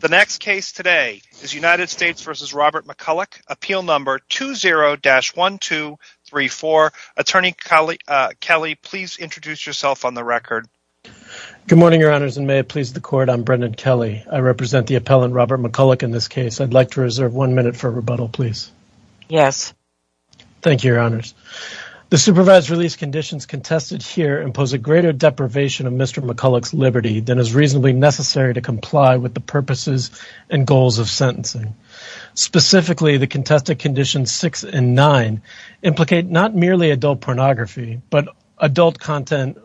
The next case today is United States v. Robert McCulloch, Appeal No. 20-1234. Attorney Kelly, please introduce yourself on the record. Good morning, Your Honors, and may it please the Court, I'm Brendan Kelly. I represent the appellant Robert McCulloch in this case. I'd like to reserve one minute for rebuttal, please. Yes. Thank you, Your Honors. The supervised release conditions contested here impose a greater deprivation of Mr. McCulloch's liberty than is reasonably necessary to comply with the purposes and goals of sentencing. Specifically, the contested conditions 6 and 9 implicate not merely adult pornography, but adult content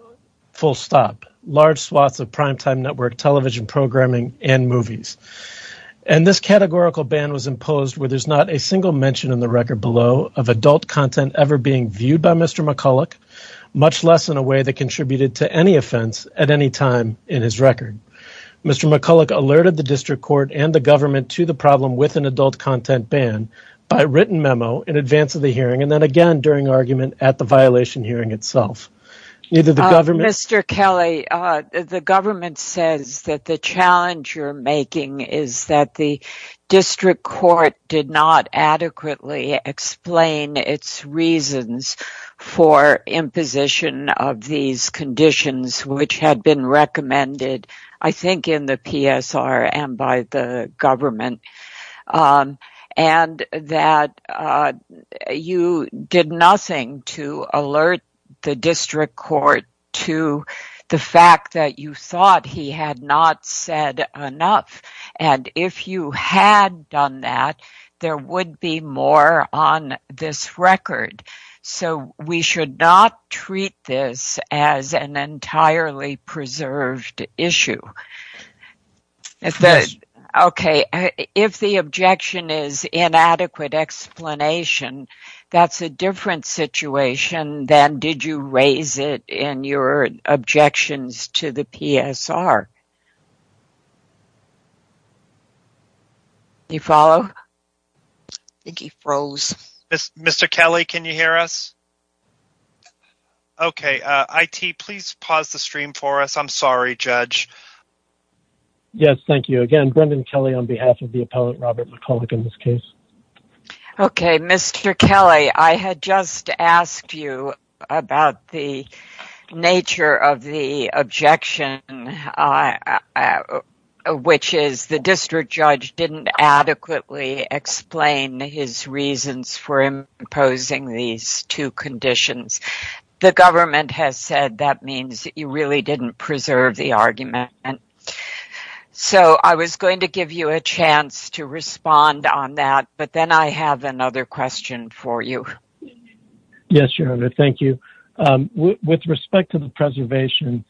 full stop, large swaths of primetime network television programming and movies. And this categorical ban was imposed where there's not a single mention in the record below of adult content ever being viewed by Mr. McCulloch, much less in a way that contributed to any offense at any time in his record. Mr. McCulloch alerted the District Court and the government to the problem with an adult content ban by written memo in advance of the hearing and then again during argument at the violation hearing itself. Neither the government... Mr. Kelly, the government says that the challenge you're making is that the District Court did not adequately explain its reasons for imposition of these conditions, which had been recommended, I think, in the PSR and by the government and that you did nothing to alert the District Court to the fact that you thought he had not said enough. And if you had done that, there would be more on this record. So we should not treat this as an entirely preserved issue. Okay, if the objection is inadequate explanation, that's a different situation than did you raise it in your objections to the PSR. Do you follow? I think he froze. Mr. Kelly, can you hear us? Okay, IT, please pause the stream for us. I'm sorry, Judge. Yes, thank you. Again, Brendan Kelly on behalf of the appellant Robert McCulloch in this case. Okay, Mr. Kelly, I had just asked you about the nature of the objection, which is the District Judge didn't adequately explain his reasons for imposing these two conditions. The government has said that means you really didn't preserve the argument. And so I was going to give you a chance to respond on that, but then I have another question for you. Yes, Your Honor, thank you. With respect to the preservation,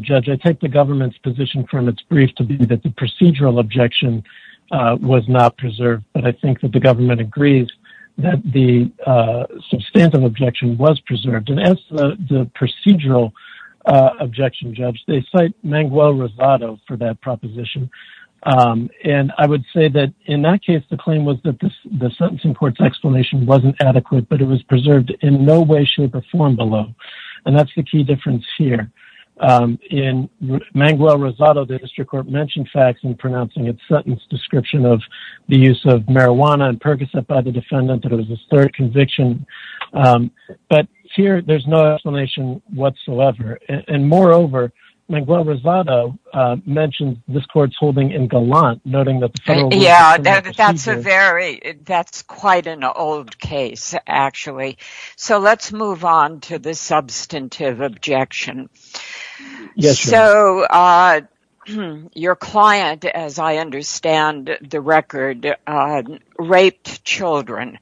Judge, I take the government's position from its brief to be that the procedural objection was not preserved. But I think that the government agrees that the substantive objection was preserved and as the procedural objection, Judge, they cite Manguel Rosado for that proposition. And I would say that in that case, the claim was that the sentencing court's explanation wasn't adequate, but it was preserved in no way, shape, or form below. And that's the key difference here. In Manguel Rosado, the district court mentioned facts in pronouncing its sentence description of the use of marijuana and Percocet by the defendant that it was a third conviction. But here, there's no explanation whatsoever. And moreover, Manguel Rosado mentioned this court's holding in gallant, noting that the federal... Yeah, that's quite an old case, actually. So let's move on to the substantive objection. Yes, Your Honor. So your client, as I understand the record, raped children.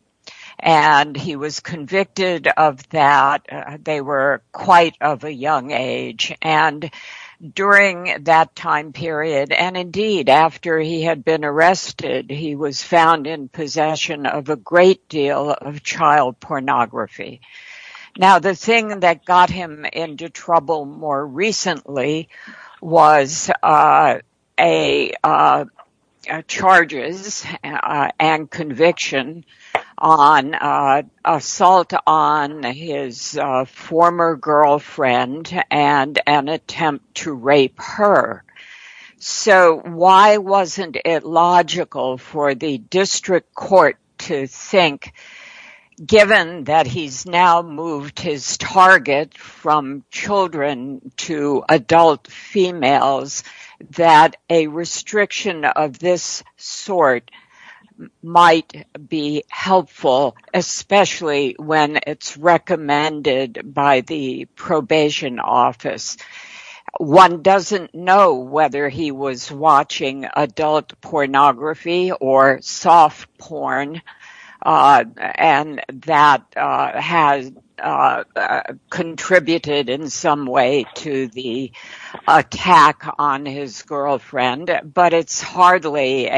And he was convicted of that. They were quite of a young age. And during that time period, and indeed, after he had been arrested, he was found in possession of a great deal of child pornography. Now, the thing that got him into trouble more recently was a charges and conviction on assault on his former girlfriend and an attempt to rape her. So why wasn't it logical for the district court to think, given that he's now moved his target from children to adult females, that a restriction of this sort might be helpful, especially when it's recommended by the probation office? One doesn't know whether he was watching adult pornography or soft porn, and that has contributed in some way to the attack on his girlfriend. But it's hardly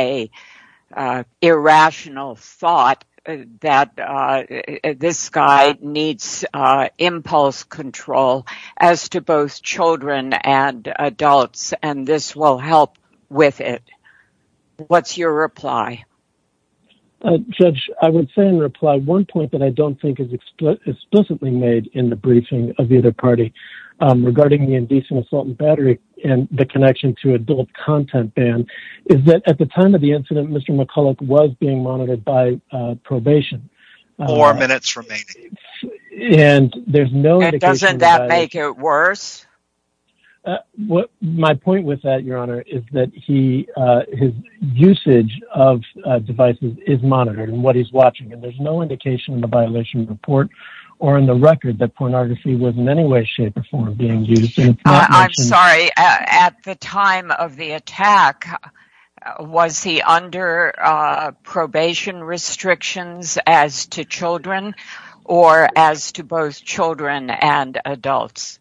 an irrational thought that this guy needs impulse control as to both What's your reply? Judge, I would say in reply one point that I don't think is explicitly made in the briefing of the other party regarding the indecent assault and battery and the connection to adult content ban is that at the time of the incident, Mr. McCulloch was being monitored by probation. Four minutes remaining. And there's no... Doesn't that make it worse? Uh, what my point with that, Your Honor, is that he, uh, his usage of devices is monitored and what he's watching. And there's no indication in the violation report or in the record that pornography was in any way, shape or form being used. I'm sorry. At the time of the attack, was he under probation restrictions as to children or as to both children and adults?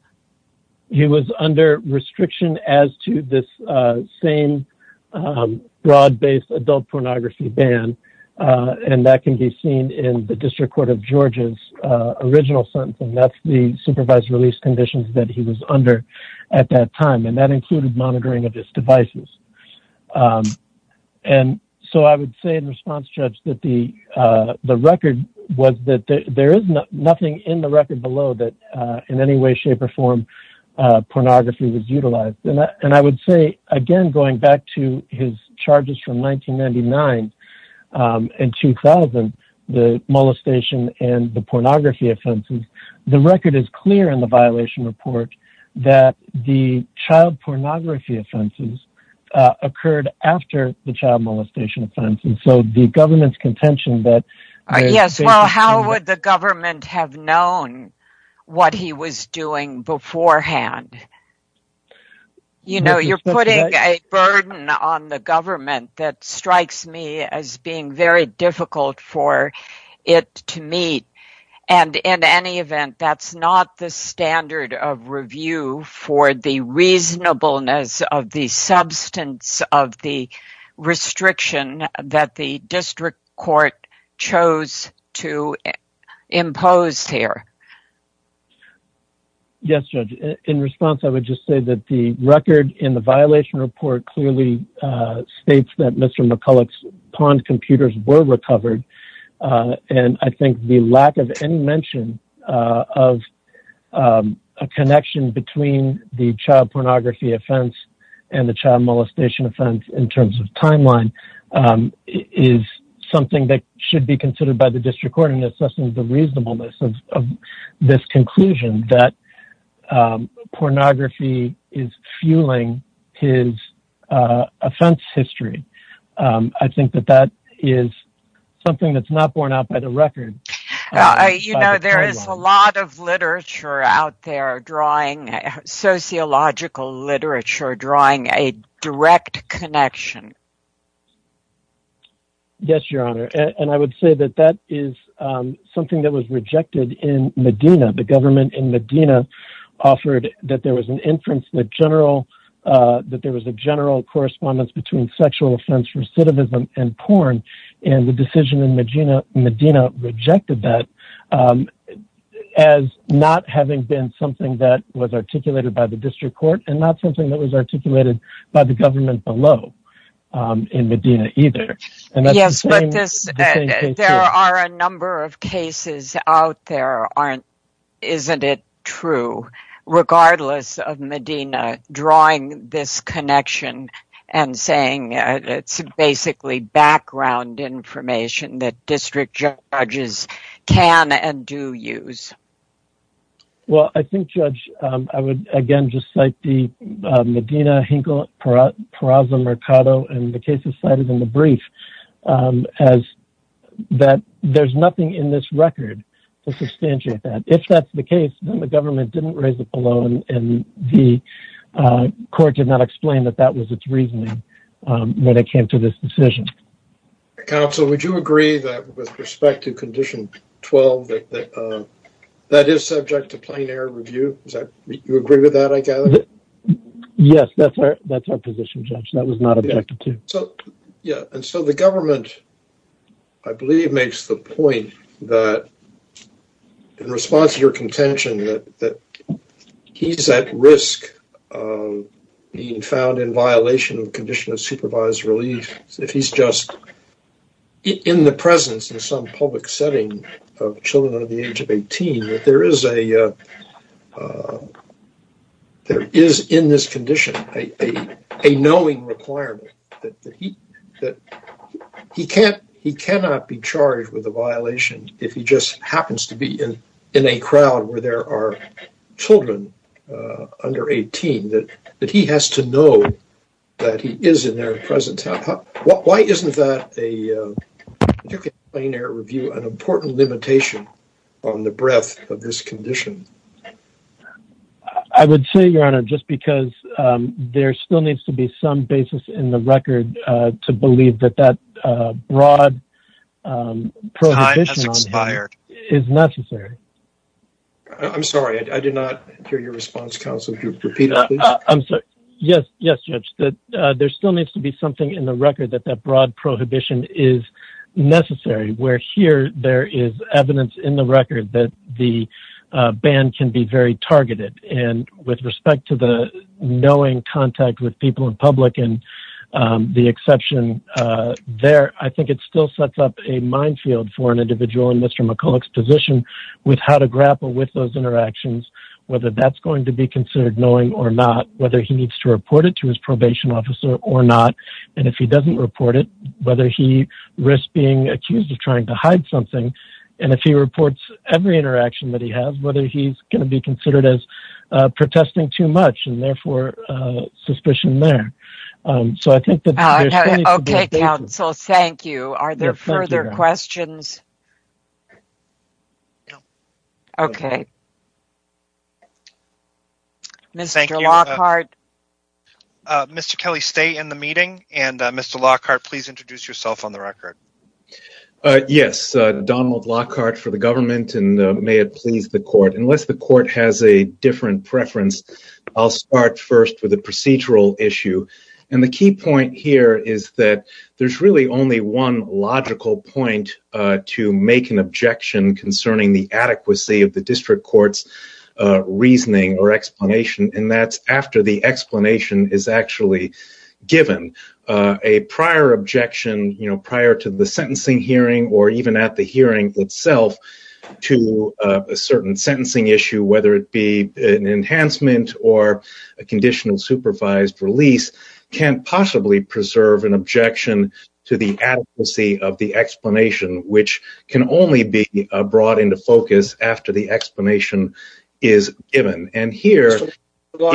He was under restriction as to this, uh, same, um, broad based adult pornography ban. And that can be seen in the district court of Georgia's original sentence. And that's the supervised release conditions that he was under at that time. And that included monitoring of his devices. Um, and so I would say in response, Judge, that the, uh, the record was that there is nothing in the record below that, uh, in any way, shape or form, uh, pornography was utilized. And I would say, again, going back to his charges from 1999, um, and 2000, the molestation and the pornography offenses, the record is clear in the violation report that the child pornography offenses, uh, occurred after the child molestation offense. And so the government's contention that... have known what he was doing beforehand. You know, you're putting a burden on the government that strikes me as being very difficult for it to meet. And in any event, that's not the standard of review for the reasonableness of the substance of the restriction that the district court chose to impose here. Yes, Judge. In response, I would just say that the record in the violation report clearly, uh, states that Mr. McCulloch's pawned computers were recovered. Uh, and I think the lack of any mention, uh, of, um, a connection between the child pornography offense and the child molestation offense in terms of timeline, um, is something that should be considered by the district court in assessing the reasonableness of this conclusion that, um, pornography is fueling his, uh, offense history. Um, I think that that is something that's not borne out by the record. You know, there is a lot of literature out there drawing sociological literature, drawing a direct connection. Yes, Your Honor. And I would say that that is, um, something that was rejected in Medina. The government in Medina offered that there was an inference that general, uh, that there was a general correspondence between sexual offense, recidivism, and porn. And the decision in Medina, Medina rejected that, um, as not having been something that was articulated by the district court and not something that was articulated by the government below, um, in Medina either. Yes, but this, there are a number of cases out there aren't, isn't it true, regardless of Medina drawing this connection and saying, it's basically background information that district judges can and do use. Well, I think judge, um, I would again, just cite the, uh, Medina Hinkle Paraza Mercado and the cases cited in the brief, um, as that there's nothing in this record to substantiate that. If that's the case, then the government didn't raise the balloon and the, uh, court did not explain that that was its reasoning, um, when it came to this decision. Counsel, would you agree that with respect to condition 12, that, that, um, that is subject to plain air review? Is that, you agree with that, I gather? Yes, that's our, that's our position, judge. That was not objective. So, yeah. And so the government, I believe makes the point that in response to your contention that, that he's at risk of being found in violation of condition of supervised relief. If he's just in the presence in some public setting of children under the age of 18, that there is a, uh, uh, there is in this condition, a, a, a knowing requirement that he, that he can't, he cannot be charged with a violation if he just happens to be in, in a presence. Why isn't that a, uh, plain air review, an important limitation on the breadth of this condition? I would say your honor, just because, um, there still needs to be some basis in the record, uh, to believe that that, uh, broad, um, prohibition is necessary. I'm sorry. I did not hear your response council. I'm sorry. Yes. Yes. Judge that, uh, there still needs to be something in the record that that broad prohibition is necessary where here there is evidence in the record that the, uh, band can be very targeted and with respect to the knowing contact with people in public and, um, the exception, uh, there, I think it still sets up a minefield for an individual in Mr. McCulloch's position with how to grapple with those interactions, whether that's going to be considered knowing or not, whether he needs to report it to his probation officer or not. And if he doesn't report it, whether he risks being accused of trying to hide something. And if he reports every interaction that he has, whether he's going to be considered as, uh, protesting too much and therefore, uh, suspicion there. Um, so I think that, okay, council. Thank you. Are there further questions? Okay. Mr. Lockhart. Uh, Mr. Kelly, stay in the meeting and, uh, Mr. Lockhart, please introduce yourself on the record. Uh, yes, uh, Donald Lockhart for the government and, uh, may it please the court, unless the court has a different preference, I'll start first with a procedural issue. And the key point here is that there's really only one logical point, uh, to make an objection concerning the adequacy of the district court's, uh, reasoning or explanation. And that's after the explanation is actually given, uh, a prior objection, you know, prior to the sentencing hearing, or even at the hearing itself to a certain sentencing issue, whether it be an enhancement or a conditional supervised release can't possibly preserve an objection to the adequacy of the explanation, which can only be brought into focus after the explanation is given and here. Let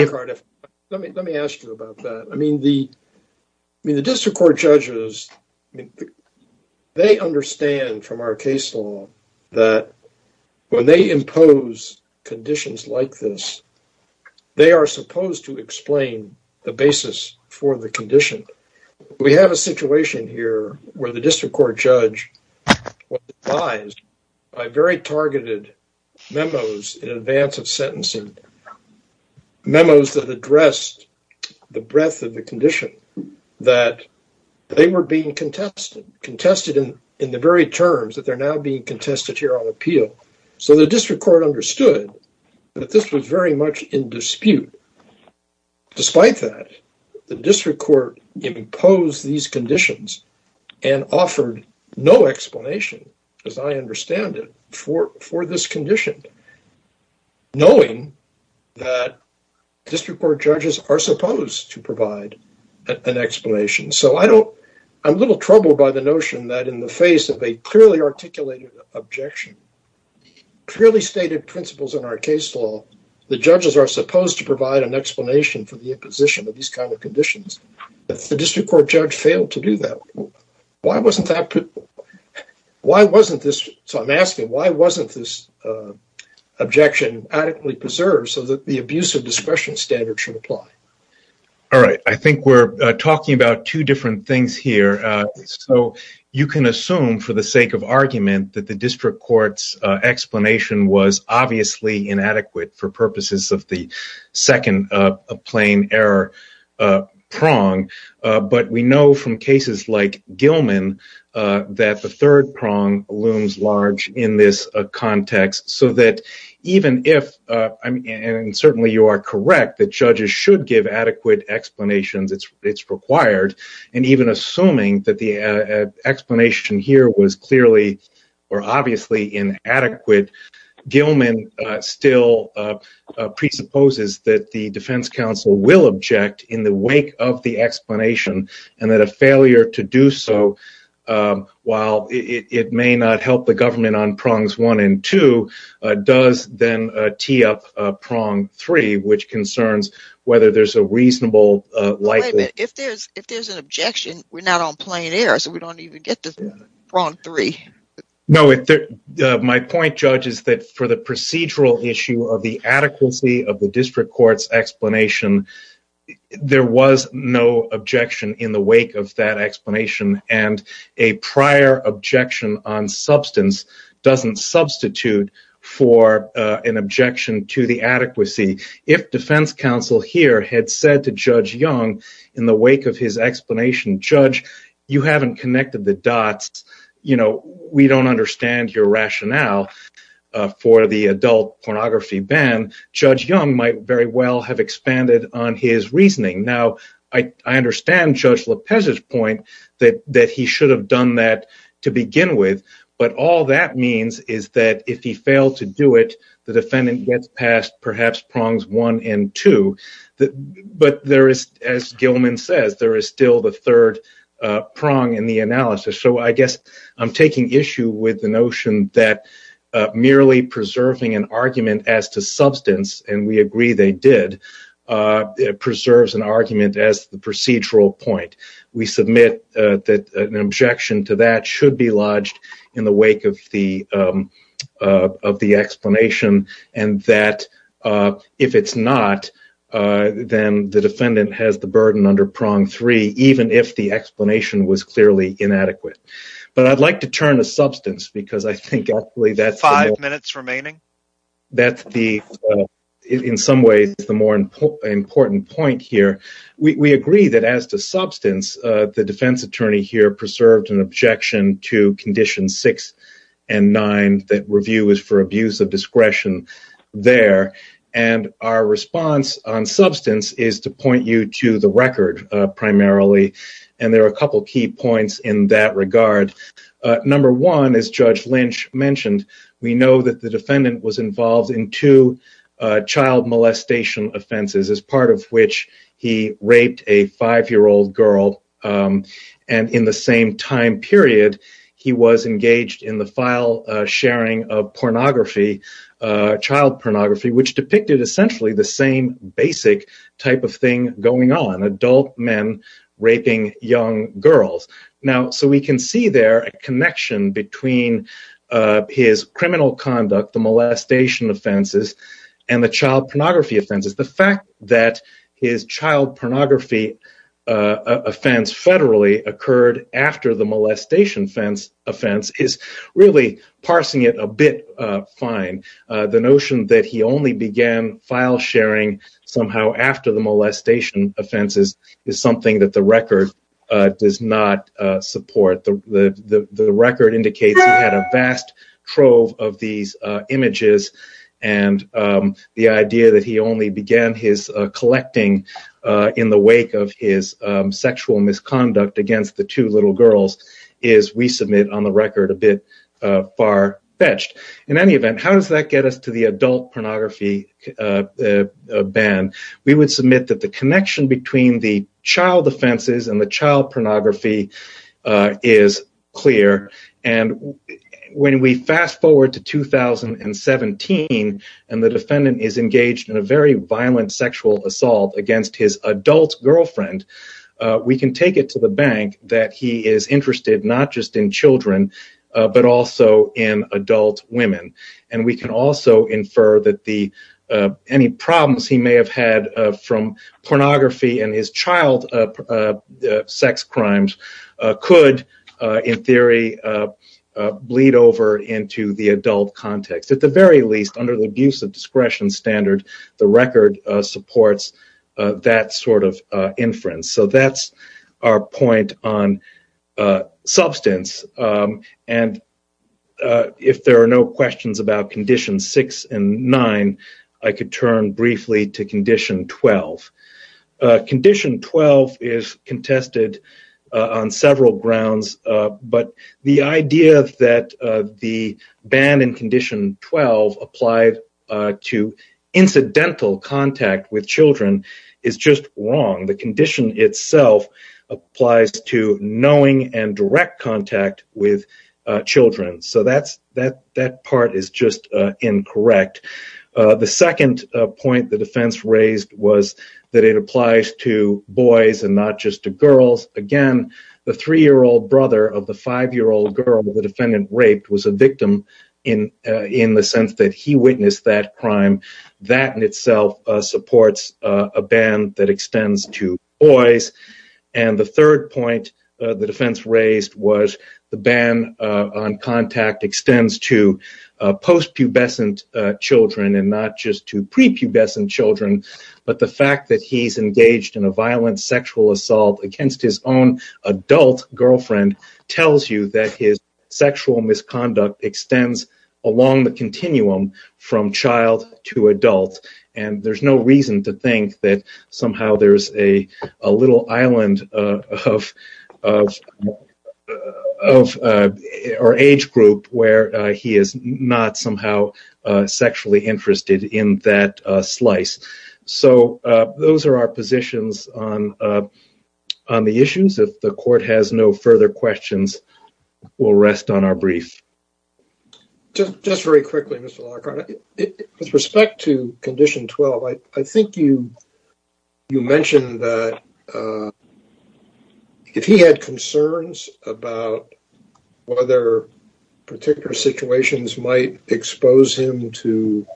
me ask you about that. I mean, the, I mean, conditions like this, they are supposed to explain the basis for the condition. We have a situation here where the district court judge was advised by very targeted memos in advance of sentencing memos that addressed the breadth of the condition that they were being contested, contested in, in the very terms that they're now being contested here on appeal. So the district court understood that this was very much in dispute. Despite that, the district court imposed these conditions and offered no explanation as I understand it for, for this condition, knowing that district court judges are supposed to provide an explanation. So I don't, I'm a little troubled by the notion that in the face of a clearly articulated objection, clearly stated principles in our case law, the judges are supposed to provide an explanation for the imposition of these kinds of conditions. If the district court judge failed to do that, why wasn't that? Why wasn't this? So I'm asking, why wasn't this objection adequately preserved so that the abuse of discretion standard should apply? All right. I think we're talking about two different things here. So you can assume for the sake of argument that the district courts explanation was obviously inadequate for purposes of the second plain error prong. But we know from cases like Gilman that the third prong looms large in this context so that even if, and certainly you are correct, that judges should give adequate explanations, it's required. And even assuming that the explanation here was clearly or obviously inadequate, Gilman still presupposes that the defense council will object in the wake of the explanation and that a failure to do so while it may not help the government on prongs one and two does then tee up prong three, which concerns whether there's a reasonable... If there's an objection, we're not on plain error, so we don't even get to prong three. No, my point judge is that for the procedural issue of the adequacy of the district court's explanation, there was no objection in the wake of that explanation. And a prior objection on for an objection to the adequacy, if defense council here had said to Judge Young in the wake of his explanation, Judge, you haven't connected the dots, we don't understand your rationale for the adult pornography ban, Judge Young might very well have expanded on his reasoning. Now, I understand Judge Lopez's point that he should have done that to begin with, but all that means is that if he failed to do it, the defendant gets past perhaps prongs one and two, but there is, as Gilman says, there is still the third prong in the analysis. So I guess I'm taking issue with the notion that merely preserving an argument as to substance, and we agree they did, preserves an argument as the procedural point. We submit that an objection to that should be lodged in the wake of the explanation, and that if it's not, then the defendant has the burden under prong three, even if the explanation was clearly inadequate. But I'd like to turn to substance because I think actually that's- Five minutes remaining. That's the, in some ways, the more important point here. We agree that as to substance, the defense attorney here preserved an objection to condition six and nine that review is for abuse of discretion there, and our response on substance is to point you to the record primarily, and there are a couple key points in that regard. Number one, as Judge Lynch mentioned, we know that the defendant was involved in two child molestation offenses, as part of which he raped a five-year-old girl, and in the same time period he was engaged in the file sharing of pornography, child pornography, which depicted essentially the same basic type of thing going on, adult men raping young girls. Now, so we can see there a connection between his criminal conduct, the molestation offenses, and the child pornography offenses. The fact that his child pornography offense federally occurred after the molestation offense is really parsing it a bit fine. The notion that he only began file sharing somehow after the molestation offenses is something that the record does not support. The record indicates he had a vast trove of these images, and the idea that he only began his collecting in the wake of his sexual misconduct against the two little girls is, we submit on the record, a bit far-fetched. In any event, how does that get us to the adult child pornography is clear, and when we fast forward to 2017, and the defendant is engaged in a very violent sexual assault against his adult girlfriend, we can take it to the bank that he is interested not just in children, but also in adult women, and we can also infer that the any problems he may have had from pornography and his child sex crimes could, in theory, bleed over into the adult context. At the very least, under the abuse of discretion standard, the record supports that sort of inference. So that's our point on substance, and if there are no questions about Condition 6 and 9, I could turn briefly to Condition 12. Condition 12 is contested on several grounds, but the idea that the ban in Condition 12 applied to incidental contact with children is just wrong. The condition itself applies to knowing and direct contact with children, so that part is just incorrect. The second point the defense raised was that it applies to boys and not just to girls. Again, the three-year-old brother of the five-year-old girl the defendant raped was a victim in the sense that he witnessed that crime. That in itself supports a ban that extends to boys, and the third point the defense raised was the ban on contact extends to post-pubescent children and not just to pre-pubescent children, but the fact that he's engaged in a violent sexual assault against his own adult girlfriend tells you that his sexual misconduct extends along the continuum from child to adult, and there's no reason to think that somehow there's a little island or age group where he is not somehow sexually interested in that slice. So those are our positions on the issues. If the court has no further questions, we'll rest on our brief. Just very quickly, Mr. Lockhart, with respect to Condition 12, I think you mentioned that if he had concerns about whether particular situations might expose him to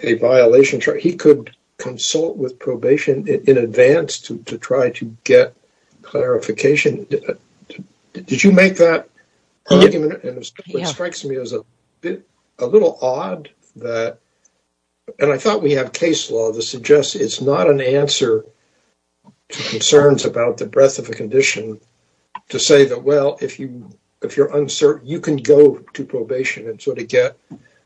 a violation, he could consult with probation in advance to try to get clarification. Did you make that argument? It strikes me as a little odd that, and I thought we have case law that suggests it's not an answer to concerns about the breadth of a condition to say that, well, if you're uncertain, you can go to probation and sort of get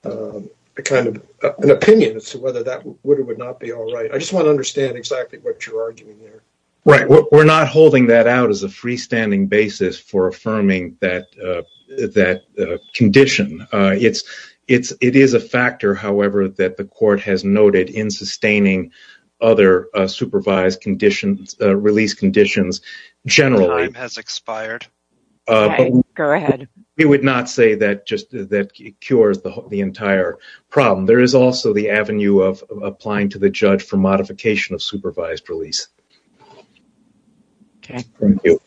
a kind of an opinion as to whether that would or would not be all right. I just want to understand exactly what you're arguing there. Right. We're not holding that out as a freestanding basis for affirming that condition. It is a factor, however, that the court has noted in sustaining other supervised release conditions generally. Time has expired. Okay. Go ahead. We would not say that just that it cures the entire problem. There is also the avenue of applying to the judge for modification of supervised release. Okay. Thank you.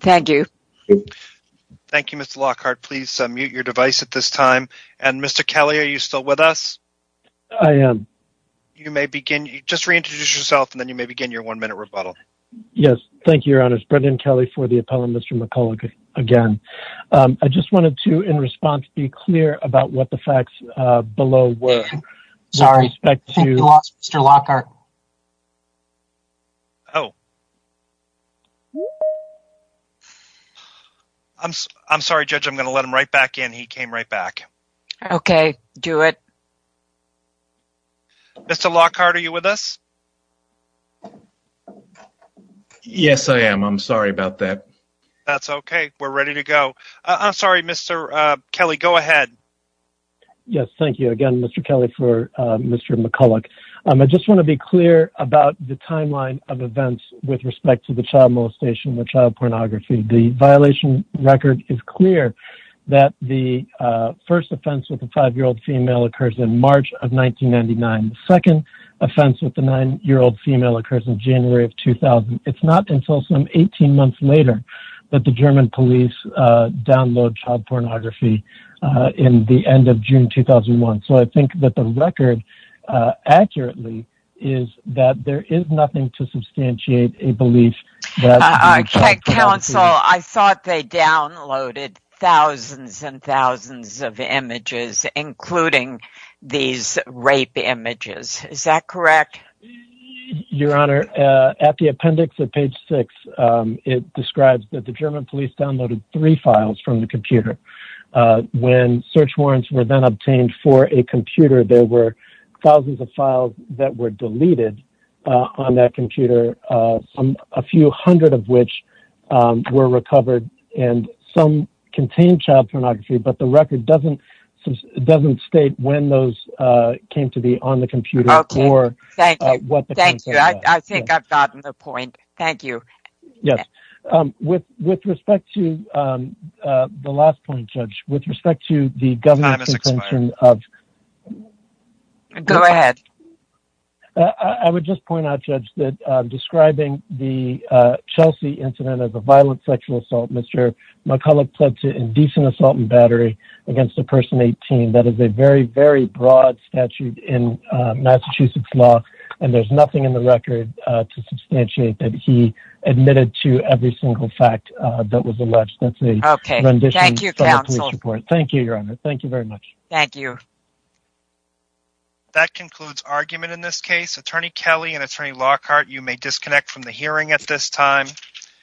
Thank you. Thank you, Mr. Lockhart. Please mute your device at this time. And Mr. Kelly, are you still with us? I am. You may begin. Just reintroduce yourself, and then you may begin your one-minute rebuttal. Yes. Thank you, Your Honor. Brendan Kelly for the appellant, Mr. McCulloch, again. I just wanted to, in response, be clear about what the facts below were. Sorry. I think you lost Mr. Lockhart. Oh. I'm sorry, Judge. I'm going to let him right back in. He came right back. Okay. Do it. Mr. Lockhart, are you with us? Yes, I am. I'm sorry about that. That's okay. We're ready to go. I'm sorry, Mr. Kelly. Go ahead. Yes. Thank you again, Mr. Kelly, for Mr. McCulloch. I just want to be clear about the timeline of events with respect to the child molestation and the child pornography. The violation record is clear that the first offense with a five-year-old female occurs in March of 2000. It's not until some 18 months later that the German police download child pornography in the end of June 2001. I think that the record accurately is that there is nothing to substantiate a belief that child pornography- Counsel, I thought they downloaded thousands and thousands of images, including these rape images. Is that correct? Your Honor, at the appendix at page six, it describes that the German police downloaded three files from the computer. When search warrants were then obtained for a computer, there were thousands of files that were deleted on that computer, a few hundred of which were recovered, and some contained child pornography, but the record doesn't state when those came to be on the computer or- Okay. Thank you. Thank you. I think I've gotten the point. Thank you. Yes. With respect to the last point, Judge, with respect to the government's intention of- Time has expired. Go ahead. I would just point out, Judge, that describing the Chelsea incident as a violent sexual assault, Mr. McCulloch pled to indecent assault and battery against a person 18. That is a very, very broad statute in Massachusetts law, and there's nothing in the record to substantiate that he admitted to every single fact that was alleged. That's a- Okay. Thank you, Counsel. Thank you, Your Honor. Thank you very much. Thank you. That concludes argument in this case. Attorney Kelly and Attorney Lockhart, you may disconnect from the hearing at this time.